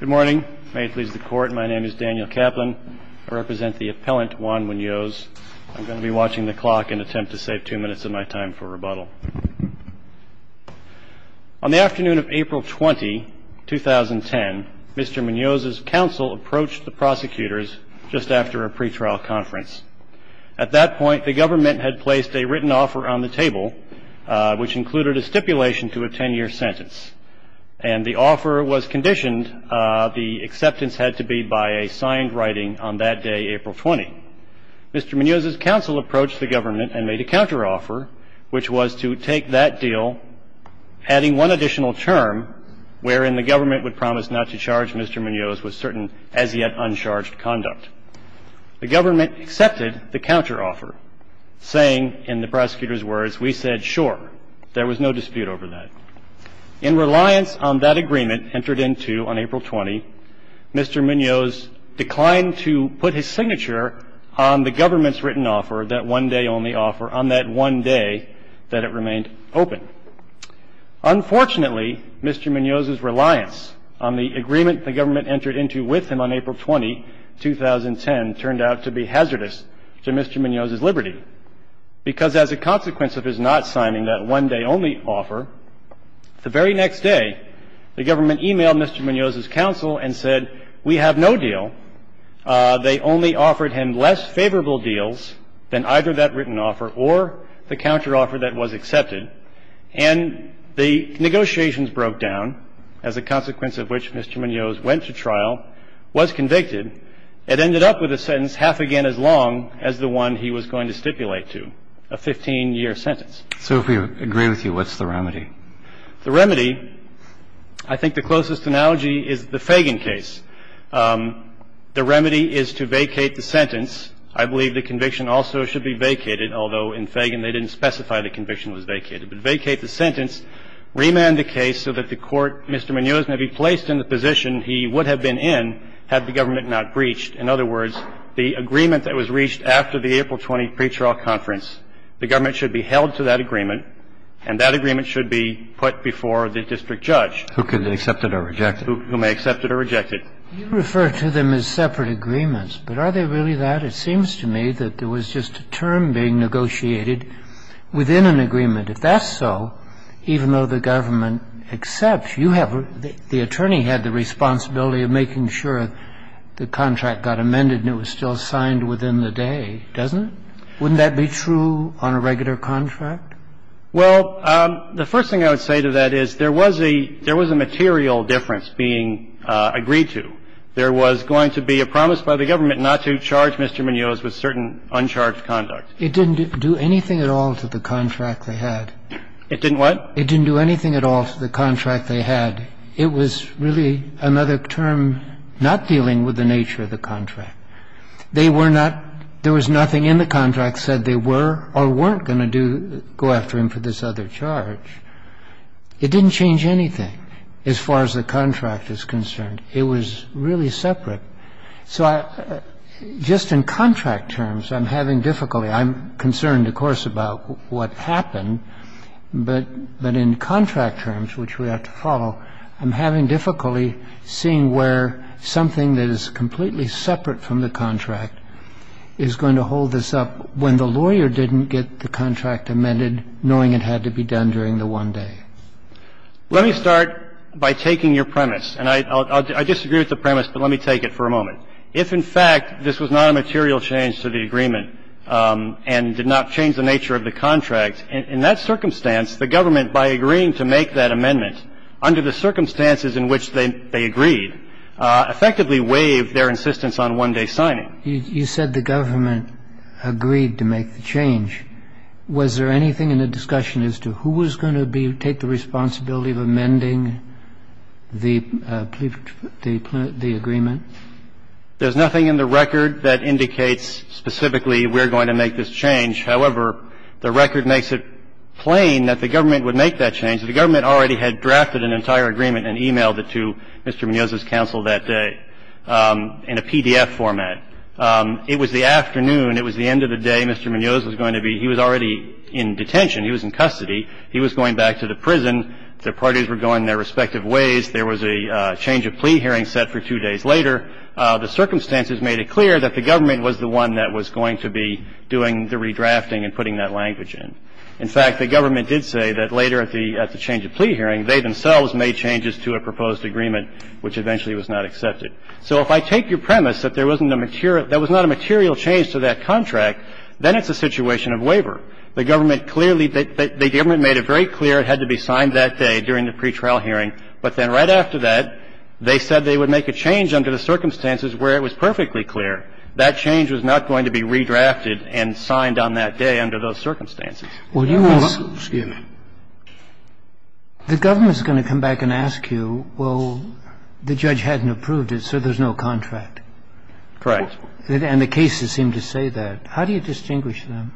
Good morning. May it please the court, my name is Daniel Kaplan. I represent the appellant Juan Munoz. I'm going to be watching the clock and attempt to save two minutes of my time for rebuttal. On the afternoon of April 20, 2010, Mr. Munoz's counsel approached the prosecutors just after a pretrial conference. At that point, the government had placed a written offer on the table, which included a stipulation to a ten-year sentence. And the offer was conditioned, the acceptance had to be by a signed writing on that day, April 20. Mr. Munoz's counsel approached the government and made a counteroffer, which was to take that deal, adding one additional term wherein the government would promise not to charge Mr. Munoz with certain as yet uncharged conduct. The government accepted the counteroffer, saying in the prosecutor's words, we said sure. There was no dispute over that. In reliance on that agreement entered into on April 20, Mr. Munoz declined to put his signature on the government's written offer, that one day only offer, on that one day that it remained open. Unfortunately, Mr. Munoz's reliance on the agreement the government entered into with him on April 20, 2010, turned out to be hazardous to Mr. Munoz's liberty. Because as a consequence of his not signing that one day only offer, the very next day, the government emailed Mr. Munoz's counsel and said, we have no deal. They only offered him less favorable deals than either that written offer or the counteroffer that was accepted. And the negotiations broke down, as a consequence of which Mr. Munoz went to trial, was convicted, and ended up with a sentence half again as long as the one he was going to stipulate to, a 15-year sentence. So if we agree with you, what's the remedy? The remedy, I think the closest analogy is the Fagan case. The remedy is to vacate the sentence. I believe the conviction also should be vacated, although in Fagan they didn't specify the conviction was vacated. But vacate the sentence, remand the case so that the Court, Mr. Munoz may be placed in the position he would have been in had the government not breached. In other words, the agreement that was reached after the April 20 pre-trial conference, the government should be held to that agreement, and that agreement should be put before the district judge. Who can accept it or reject it. Who may accept it or reject it. You refer to them as separate agreements, but are they really that? It seems to me that there was just a term being negotiated within an agreement. If that's so, even though the government accepts, you have the attorney had the responsibility of making sure the contract got amended and it was still signed within the day, doesn't it? Wouldn't that be true on a regular contract? Well, the first thing I would say to that is there was a material difference being agreed to. There was going to be a promise by the government not to charge Mr. Munoz with certain uncharged conduct. It didn't do anything at all to the contract they had. It didn't what? It didn't do anything at all to the contract they had. It was really another term not dealing with the nature of the contract. They were not – there was nothing in the contract that said they were or weren't going to do – go after him for this other charge. It didn't change anything as far as the contract is concerned. It was really separate. So I – just in contract terms, I'm having difficulty. I'm concerned, of course, about what happened. But in contract terms, which we have to follow, I'm having difficulty seeing where something that is completely separate from the contract is going to hold this up when the lawyer didn't get the contract amended, knowing it had to be done during the 1 day. Let me start by taking your premise. And I disagree with the premise, but let me take it for a moment. If, in fact, this was not a material change to the agreement and did not change the nature of the contract, in that circumstance, the government, by agreeing to make that amendment under the circumstances in which they agreed, effectively waived their insistence on 1 day signing. You said the government agreed to make the change. Was there anything in the discussion as to who was going to be – take the responsibility of amending the agreement? There's nothing in the record that indicates specifically we're going to make this change. However, the record makes it plain that the government would make that change. The government already had drafted an entire agreement and emailed it to Mr. Munoz's counsel that day in a PDF format. It was the afternoon. It was the end of the day. Mr. Munoz was going to be – he was already in detention. He was in custody. He was going back to the prison. The parties were going their respective ways. There was a change of plea hearing set for 2 days later. The circumstances made it clear that the government was the one that was going to be doing the redrafting and putting that language in. In fact, the government did say that later at the change of plea hearing, they themselves made changes to a proposed agreement, which eventually was not accepted. So if I take your premise that there wasn't a material – there was not a material change to that contract, then it's a situation of waiver. The government clearly – the government made it very clear it had to be signed that day during the pretrial hearing. But then right after that, they said they would make a change under the circumstances where it was perfectly clear that change was not going to be redrafted and signed on that day under those circumstances. Well, you will – excuse me. The government is going to come back and ask you, well, the judge hadn't approved it, so there's no contract. Correct. And the cases seem to say that. How do you distinguish them?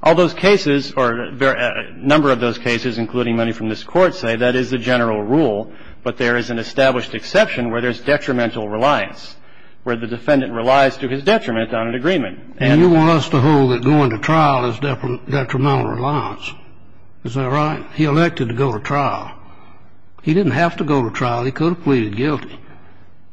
All those cases, or a number of those cases, including money from this Court, say that is the general rule, but there is an established exception where there's detrimental reliance, where the defendant relies to his detriment on an agreement. And you want us to hold that going to trial is detrimental reliance. Is that right? He elected to go to trial. He didn't have to go to trial. He could have pleaded guilty.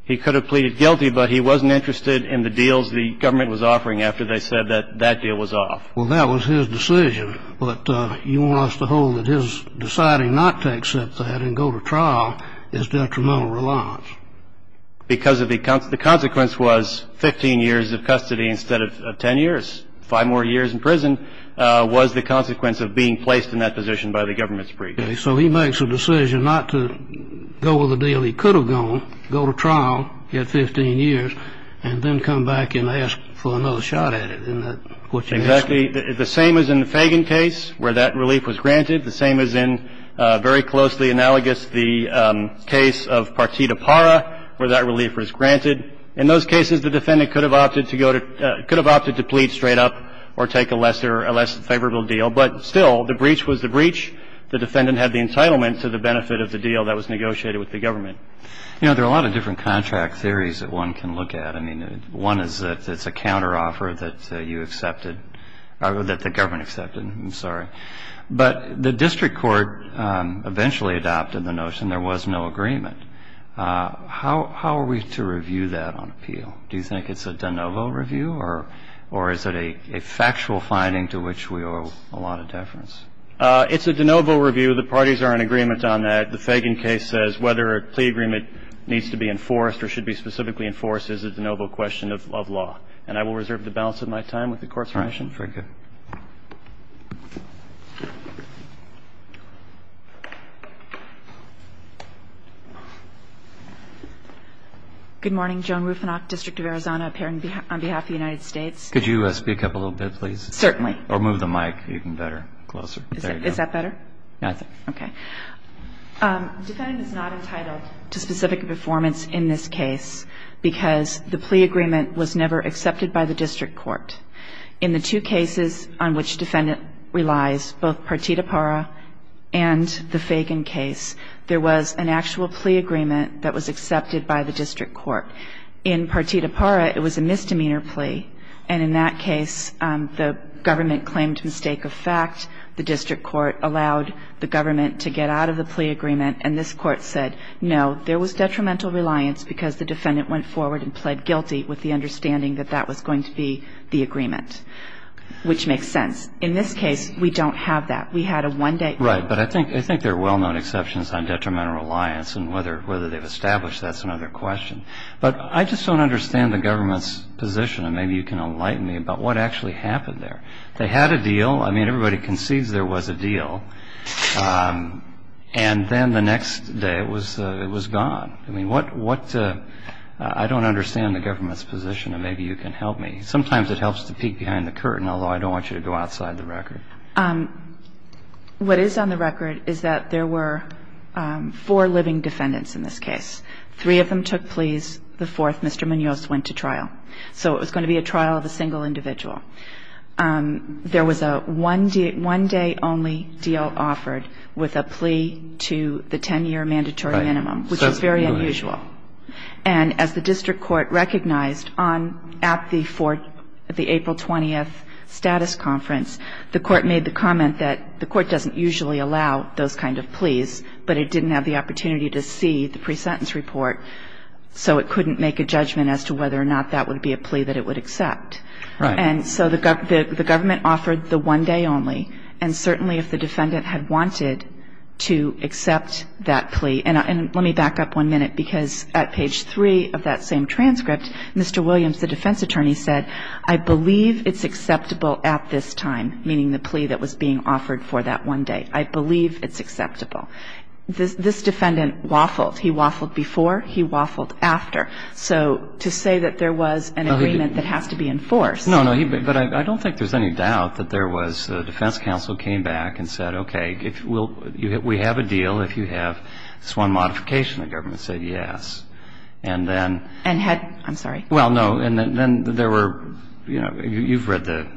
He could have pleaded guilty, but he wasn't interested in the deals the government was offering after they said that that deal was off. Well, that was his decision, but you want us to hold that his deciding not to accept that and go to trial is detrimental reliance. Because of the – the consequence was 15 years of custody instead of 10 years. Five more years in prison was the consequence of being placed in that position by the government's brief. Okay. So he makes a decision not to go with a deal he could have gone, go to trial, get 15 years, and then come back and ask for another shot at it, isn't that what you're asking? Exactly. The same is in the Fagan case where that relief was granted. The same is in, very closely analogous, the case of Partita Para where that relief was granted. In those cases, the defendant could have opted to go to – could have opted to plead straight up or take a lesser – a less favorable deal. But still, the breach was the breach. The defendant had the entitlement to the benefit of the deal that was negotiated with the government. You know, there are a lot of different contract theories that one can look at. I mean, one is that it's a counteroffer that you accepted – that the government accepted. I'm sorry. But the district court eventually adopted the notion there was no agreement. How are we to review that on appeal? Do you think it's a de novo review or is it a factual finding to which we owe a lot of deference? It's a de novo review. The parties are in agreement on that. The Fagan case says whether a plea agreement needs to be enforced or should be specifically enforced is a de novo question of law. And I will reserve the balance of my time with the Court's permission. All right. Very good. Good morning. Joan Rufinock, District of Arizona, appearing on behalf of the United States. Could you speak up a little bit, please? Certainly. Or move the mic even better, closer. There you go. Is that better? Yes. Okay. Defendant is not entitled to specific performance in this case because the plea agreement was never accepted by the district court. In the two cases on which defendant relies, both Partita Para and the Fagan case, there was an actual plea agreement that was accepted by the district court. In Partita Para, it was a misdemeanor plea. And in that case, the government claimed mistake of fact. The district court allowed the government to get out of the plea agreement, and this court said, no, there was detrimental reliance because the defendant went forward and pled guilty with the understanding that that was going to be the agreement, which makes sense. In this case, we don't have that. We had a one-day agreement. Right. But I think there are well-known exceptions on detrimental reliance, and whether they've established that's another question. But I just don't understand the government's position, and maybe you can enlighten me about what actually happened there. They had a deal. I mean, everybody concedes there was a deal. And then the next day it was gone. I mean, what to – I don't understand the government's position, and maybe you can help me. Sometimes it helps to peek behind the curtain, although I don't want you to go outside the record. What is on the record is that there were four living defendants in this case. Three of them took pleas. The fourth, Mr. Munoz, went to trial. So it was going to be a trial of a single individual. There was a one-day only deal offered with a plea to the 10-year mandatory minimum, which was very unusual. And as the district court recognized at the April 20th status conference, the court made the comment that the court doesn't usually allow those kind of pleas, but it didn't have the opportunity to see the pre-sentence report, so it couldn't make a judgment as to whether or not that would be a plea that it would accept. And so the government offered the one-day only. And certainly if the defendant had wanted to accept that plea – and let me back up one minute because at page three of that same transcript, Mr. Williams, the defense attorney, said, I believe it's acceptable at this time, meaning the plea that was being offered for that one day. I believe it's acceptable. This defendant waffled. He waffled before. He waffled after. So to say that there was an agreement that has to be enforced – No, no. But I don't think there's any doubt that there was – the defense counsel came back and said, okay, we have a deal. If you have this one modification, the government said yes. And then – And had – I'm sorry. Well, no. And then there were – you know, you've read the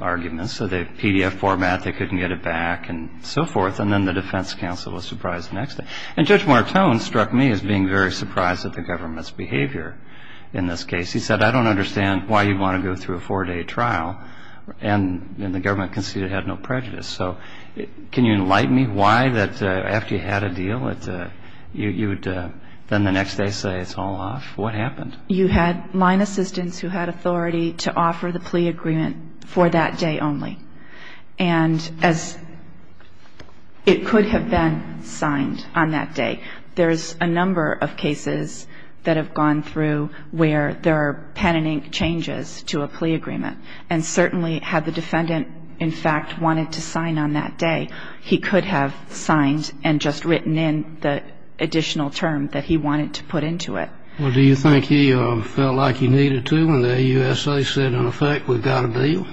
arguments. So the PDF format, they couldn't get it back and so forth. And then the defense counsel was surprised the next day. And Judge Martone struck me as being very surprised at the government's behavior in this case. He said, I don't understand why you'd want to go through a four-day trial and the government conceded it had no prejudice. So can you enlighten me why that after you had a deal you would then the next day say it's all off? What happened? You had line assistants who had authority to offer the plea agreement for that day only. And as it could have been signed on that day. There's a number of cases that have gone through where there are pen and ink changes to a plea agreement. And certainly had the defendant, in fact, wanted to sign on that day, he could have signed and just written in the additional term that he wanted to put into it. Well, do you think he felt like he needed to when the USA said, in effect, we've got a deal?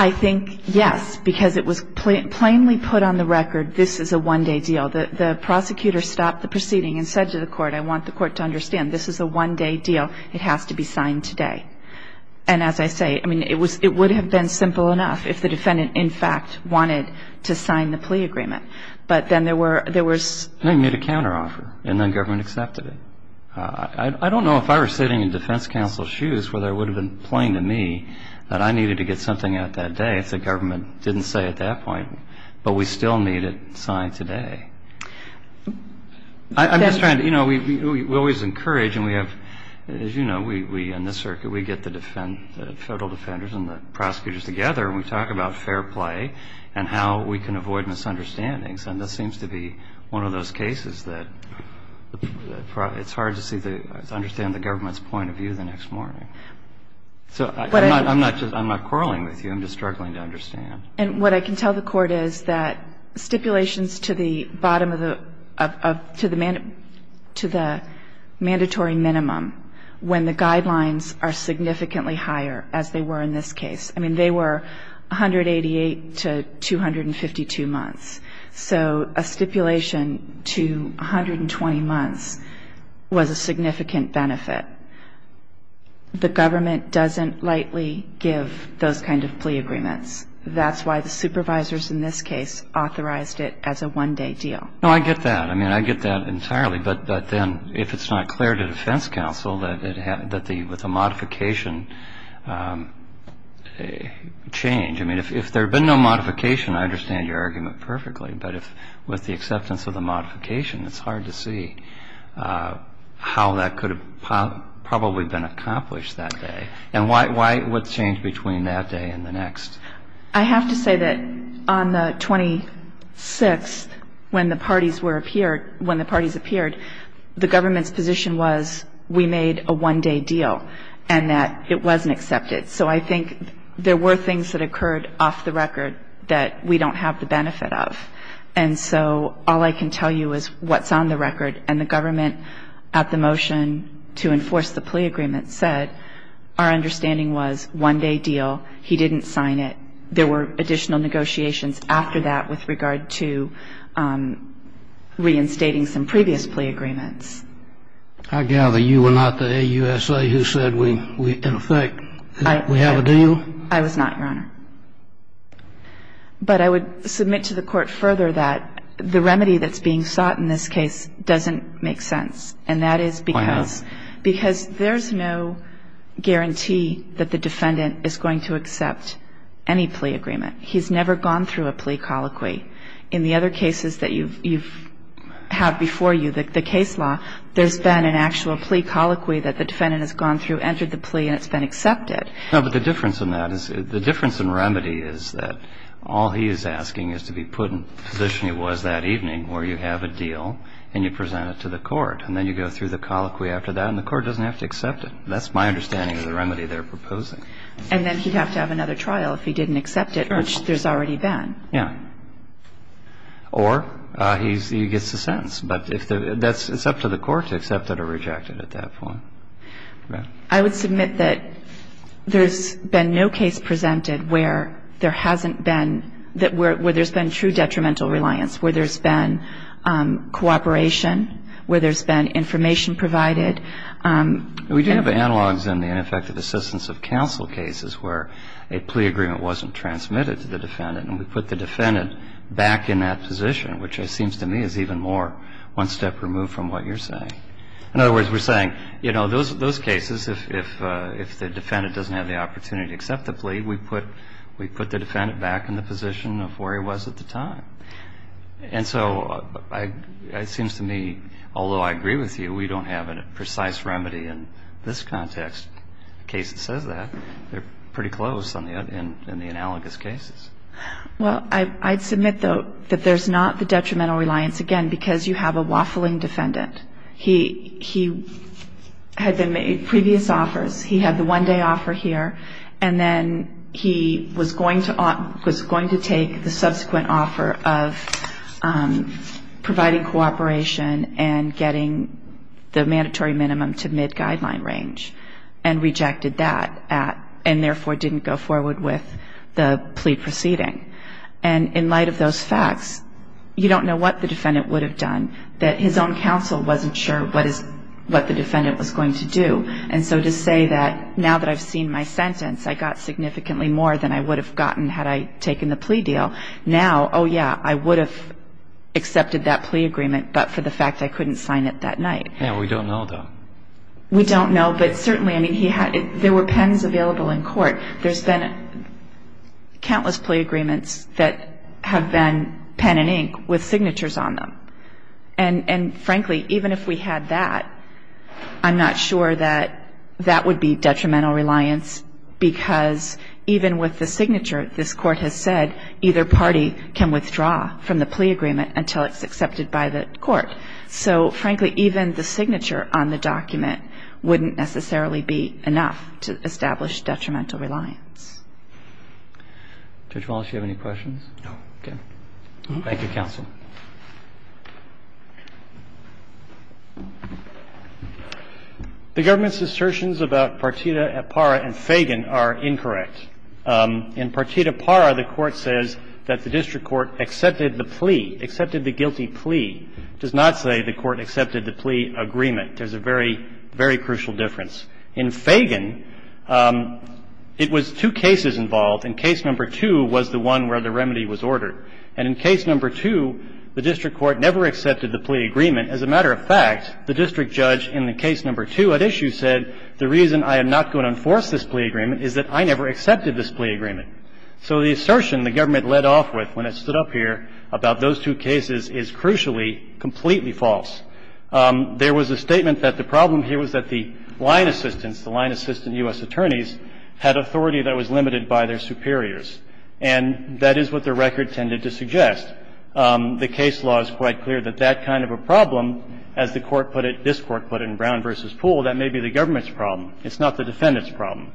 I think, yes, because it was plainly put on the record, this is a one-day deal. The prosecutor stopped the proceeding and said to the court, I want the court to understand, this is a one-day deal. It has to be signed today. And as I say, I mean, it would have been simple enough if the defendant, in fact, wanted to sign the plea agreement. They made a counteroffer. And then government accepted it. I don't know if I were sitting in defense counsel's shoes where there would have been plain to me that I needed to get something out that day if the government didn't say at that point, but we still need it signed today. We always encourage and we have, as you know, in this circuit, we get the federal defenders and the prosecutors together and we talk about fair play and how we can avoid misunderstandings. And this seems to be one of those cases that it's hard to understand the government's point of view the next morning. So I'm not quarreling with you. I'm just struggling to understand. And what I can tell the court is that stipulations to the bottom of the – to the mandatory minimum when the guidelines are significantly higher as they were in this case. I mean, they were 188 to 252 months. So a stipulation to 120 months was a significant benefit. The government doesn't lightly give those kind of plea agreements. That's why the supervisors in this case authorized it as a one-day deal. No, I get that. I mean, I get that entirely. But then if it's not clear to defense counsel that the modification change – I mean, if there had been no modification, I understand your argument perfectly. But with the acceptance of the modification, it's hard to see how that could have probably been accomplished that day. And why – what changed between that day and the next? I have to say that on the 26th when the parties were – when the parties appeared, the government's position was we made a one-day deal and that it wasn't accepted. So I think there were things that occurred off the record that we don't have the benefit of. And so all I can tell you is what's on the record. And the government at the motion to enforce the plea agreement said our understanding was one-day deal. He didn't sign it. There were additional negotiations after that with regard to reinstating some previous plea agreements. I gather you were not the AUSA who said we, in effect, we have a deal? I was not, Your Honor. But I would submit to the Court further that the remedy that's being sought in this case doesn't make sense. And that is because – Why not? Because there's no guarantee that the defendant is going to accept any plea agreement. He's never gone through a plea colloquy. In the other cases that you've had before you, the case law, there's been an actual plea colloquy that the defendant has gone through, entered the plea, and it's been accepted. No, but the difference in that is – the difference in remedy is that all he is asking is to be put in the position he was that evening where you have a deal and you present it to the court. And then you go through the colloquy after that, and the court doesn't have to accept it. That's my understanding of the remedy they're proposing. And then he'd have to have another trial if he didn't accept it, which there's already been. Yeah. Or he gets the sentence. But it's up to the court to accept it or reject it at that point. I would submit that there's been no case presented where there hasn't been – where there's been true detrimental reliance, where there's been cooperation, where there's been information provided. We do have analogs in the ineffective assistance of counsel cases where a plea agreement wasn't transmitted to the defendant. And we put the defendant back in that position, which seems to me is even more one step removed from what you're saying. In other words, we're saying, you know, those cases, if the defendant doesn't have the opportunity to accept the plea, we put the defendant back in the position of where he was at the time. And so it seems to me, although I agree with you, we don't have a precise remedy in this context. In case it says that, they're pretty close in the analogous cases. Well, I'd submit, though, that there's not the detrimental reliance, again, because you have a waffling defendant. He had the previous offers. He had the one-day offer here. And then he was going to take the subsequent offer of providing cooperation and getting the mandatory minimum to mid-guideline range and rejected that and therefore didn't go forward with the plea proceeding. And in light of those facts, you don't know what the defendant would have done, that his own counsel wasn't sure what the defendant was going to do. And so to say that now that I've seen my sentence, I got significantly more than I would have gotten had I taken the plea deal, now, oh, yeah, I would have accepted that plea agreement, but for the fact I couldn't sign it that night. Yeah, we don't know, though. We don't know, but certainly, I mean, there were pens available in court. There's been countless plea agreements that have been pen and ink with signatures on them. And, frankly, even if we had that, I'm not sure that that would be detrimental reliance because even with the signature, this Court has said either party can withdraw from the plea agreement until it's accepted by the Court. So, frankly, even the signature on the document wouldn't necessarily be enough to establish detrimental reliance. Judge Wallace, do you have any questions? No. Okay. Thank you, counsel. The government's assertions about Partita Parra and Fagan are incorrect. In Partita Parra, the Court says that the district court accepted the plea, accepted the guilty plea. It does not say the Court accepted the plea agreement. There's a very, very crucial difference. In Fagan, it was two cases involved, and case number two was the one where the remedy was ordered. And in case number two, the district court never accepted the plea agreement. As a matter of fact, the district judge in the case number two at issue said the reason I am not going to enforce this plea agreement is that I never accepted this plea agreement. So the assertion the government led off with when it stood up here about those two cases is crucially completely false. There was a statement that the problem here was that the line assistants, the line assistant U.S. attorneys, had authority that was limited by their superiors. And that is what the record tended to suggest. The case law is quite clear that that kind of a problem, as the Court put it, this Court put it in Brown v. Pool, that may be the government's problem. It's not the defendant's problem.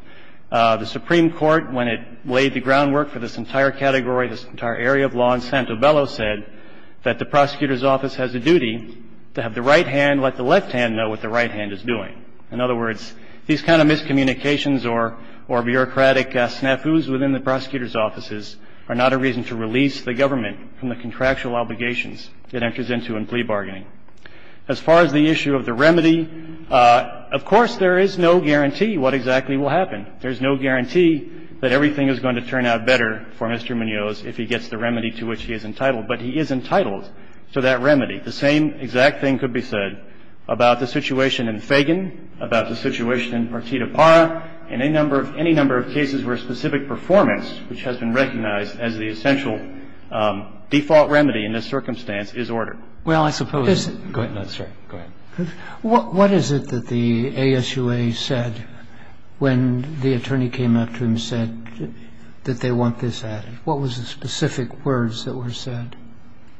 The Supreme Court, when it laid the groundwork for this entire category, this entire area of law in Santobelo, said that the prosecutor's office has a duty to have the right hand let the left hand know what the right hand is doing. In other words, these kind of miscommunications or bureaucratic snafus within the prosecutor's offices are not a reason to release the government from the contractual obligations it enters into in plea bargaining. As far as the issue of the remedy, of course, there is no guarantee what exactly will happen. There is no guarantee that everything is going to turn out better for Mr. Munoz if he gets the remedy to which he is entitled. But he is entitled to that remedy. The same exact thing could be said about the situation in Fagan, about the situation in Martita Parra, and any number of cases where specific performance, which has been recognized as the essential default remedy in this circumstance, is ordered. Well, I suppose. Go ahead. No, sorry. Go ahead. What is it that the ASUA said when the attorney came up to him and said that they want this added? What was the specific words that were said?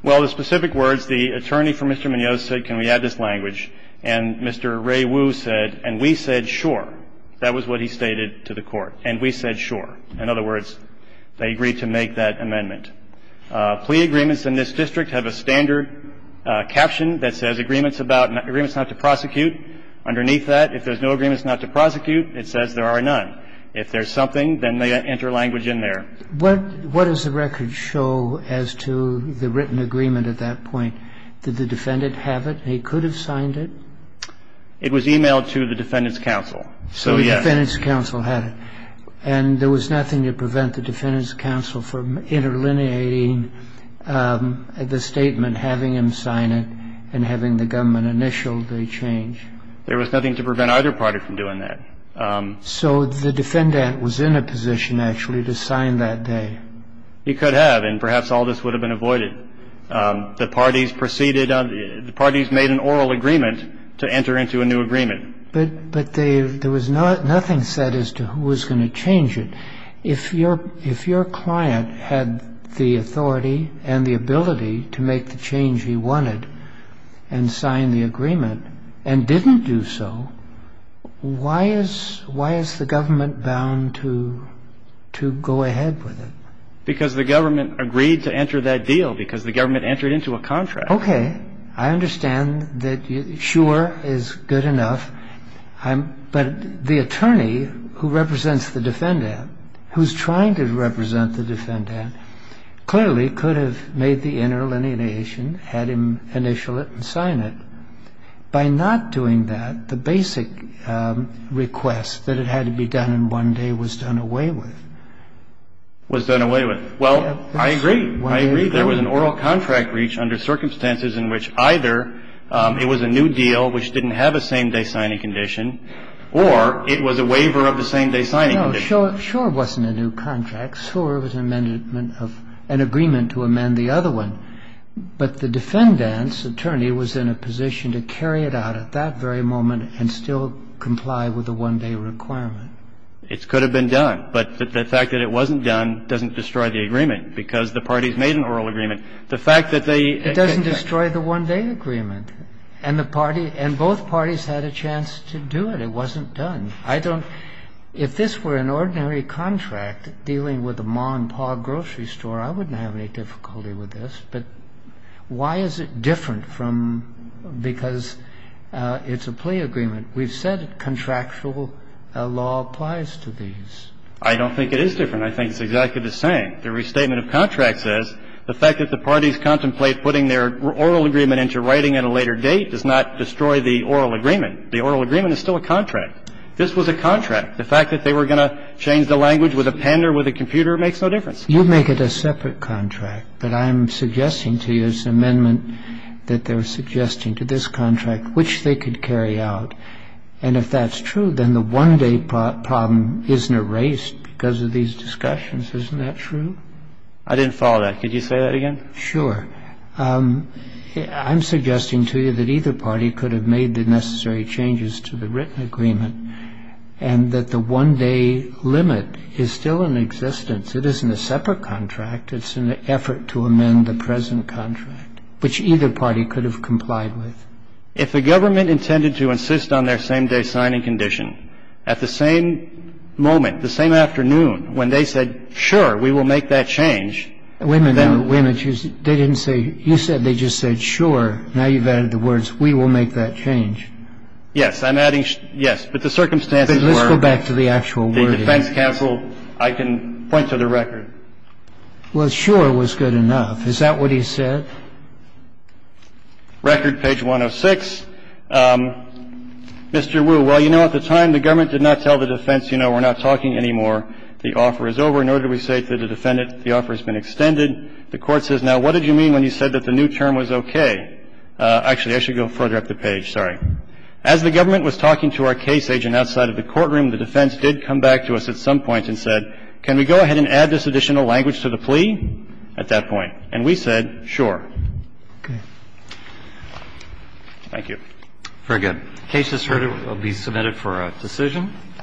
Well, the specific words, the attorney for Mr. Munoz said, can we add this language? And Mr. Rae Woo said, and we said sure. That was what he stated to the Court. And we said sure. In other words, they agreed to make that amendment. Plea agreements in this district have a standard caption that says agreements about, agreements not to prosecute. Underneath that, if there's no agreements not to prosecute, it says there are none. If there's something, then they enter language in there. I'm sorry. Go ahead. What does the record show as to the written agreement at that point? Did the defendant have it? He could have signed it? It was emailed to the Defendant's Counsel. So, yes. So the Defendant's Counsel had it. And there was nothing to prevent the Defendant's Counsel from interlineating the statement, having him sign it, and having the government initial the change? There was nothing to prevent either party from doing that. So the Defendant was in a position, actually, to sign that day? He could have. And perhaps all this would have been avoided. The parties proceeded, the parties made an oral agreement to enter into a new agreement. But there was nothing said as to who was going to change it. If your client had the authority and the ability to make the change he wanted and sign the agreement and didn't do so, why is the government bound to go ahead with it? Because the government agreed to enter that deal, because the government entered into a contract. Okay. I understand that sure is good enough. But the attorney who represents the Defendant, who's trying to represent the Defendant, clearly could have made the interlineation, had him initial it and sign it. By not doing that, the basic request that it had to be done in one day was done away with. Was done away with. Well, I agree. I agree. There was an oral contract breach under circumstances in which either it was a new deal, which didn't have a same-day signing condition, or it was a waiver of the same-day signing condition. No, sure it wasn't a new contract. Sure, it was an amendment of an agreement to amend the other one. But the Defendant's attorney was in a position to carry it out at that very moment and still comply with the one-day requirement. It could have been done, but the fact that it wasn't done doesn't destroy the agreement, because the parties made an oral agreement. The fact that they can't make it. It doesn't destroy the one-day agreement. And both parties had a chance to do it. It wasn't done. And I don't know if this were an ordinary contract dealing with a Ma and Pa grocery store, I wouldn't have any difficulty with this. But why is it different from because it's a plea agreement? We've said contractual law applies to these. I don't think it is different. I think it's exactly the same. The restatement of contract says the fact that the parties contemplate putting their oral agreement into writing at a later date does not destroy the oral agreement. The oral agreement is still a contract. This was a contract. The fact that they were going to change the language with a pen or with a computer makes no difference. You make it a separate contract, but I'm suggesting to you it's an amendment that they're suggesting to this contract, which they could carry out. And if that's true, then the one-day problem isn't erased because of these discussions. Isn't that true? I didn't follow that. Could you say that again? Sure. I'm suggesting to you that either party could have made the necessary changes to the written agreement and that the one-day limit is still in existence. It isn't a separate contract. It's an effort to amend the present contract, which either party could have complied with. If the government intended to insist on their same-day signing condition at the same moment, the same afternoon, when they said, sure, we will make that change, then And if the government intended to insist on their same-day signing condition at the same moment, the same afternoon, when they said, sure, we will make that change, then I'm suggesting to you that either party could have made the necessary changes to the written agreement and that the one-day limit is still in existence. And if the government intended to insist on their same-day signing condition at the same moment, the same afternoon, when they said, sure, we will make that change, then I'm suggesting to you that either party could have made the necessary changes to the written agreement and that the same afternoon, when they said, sure, we will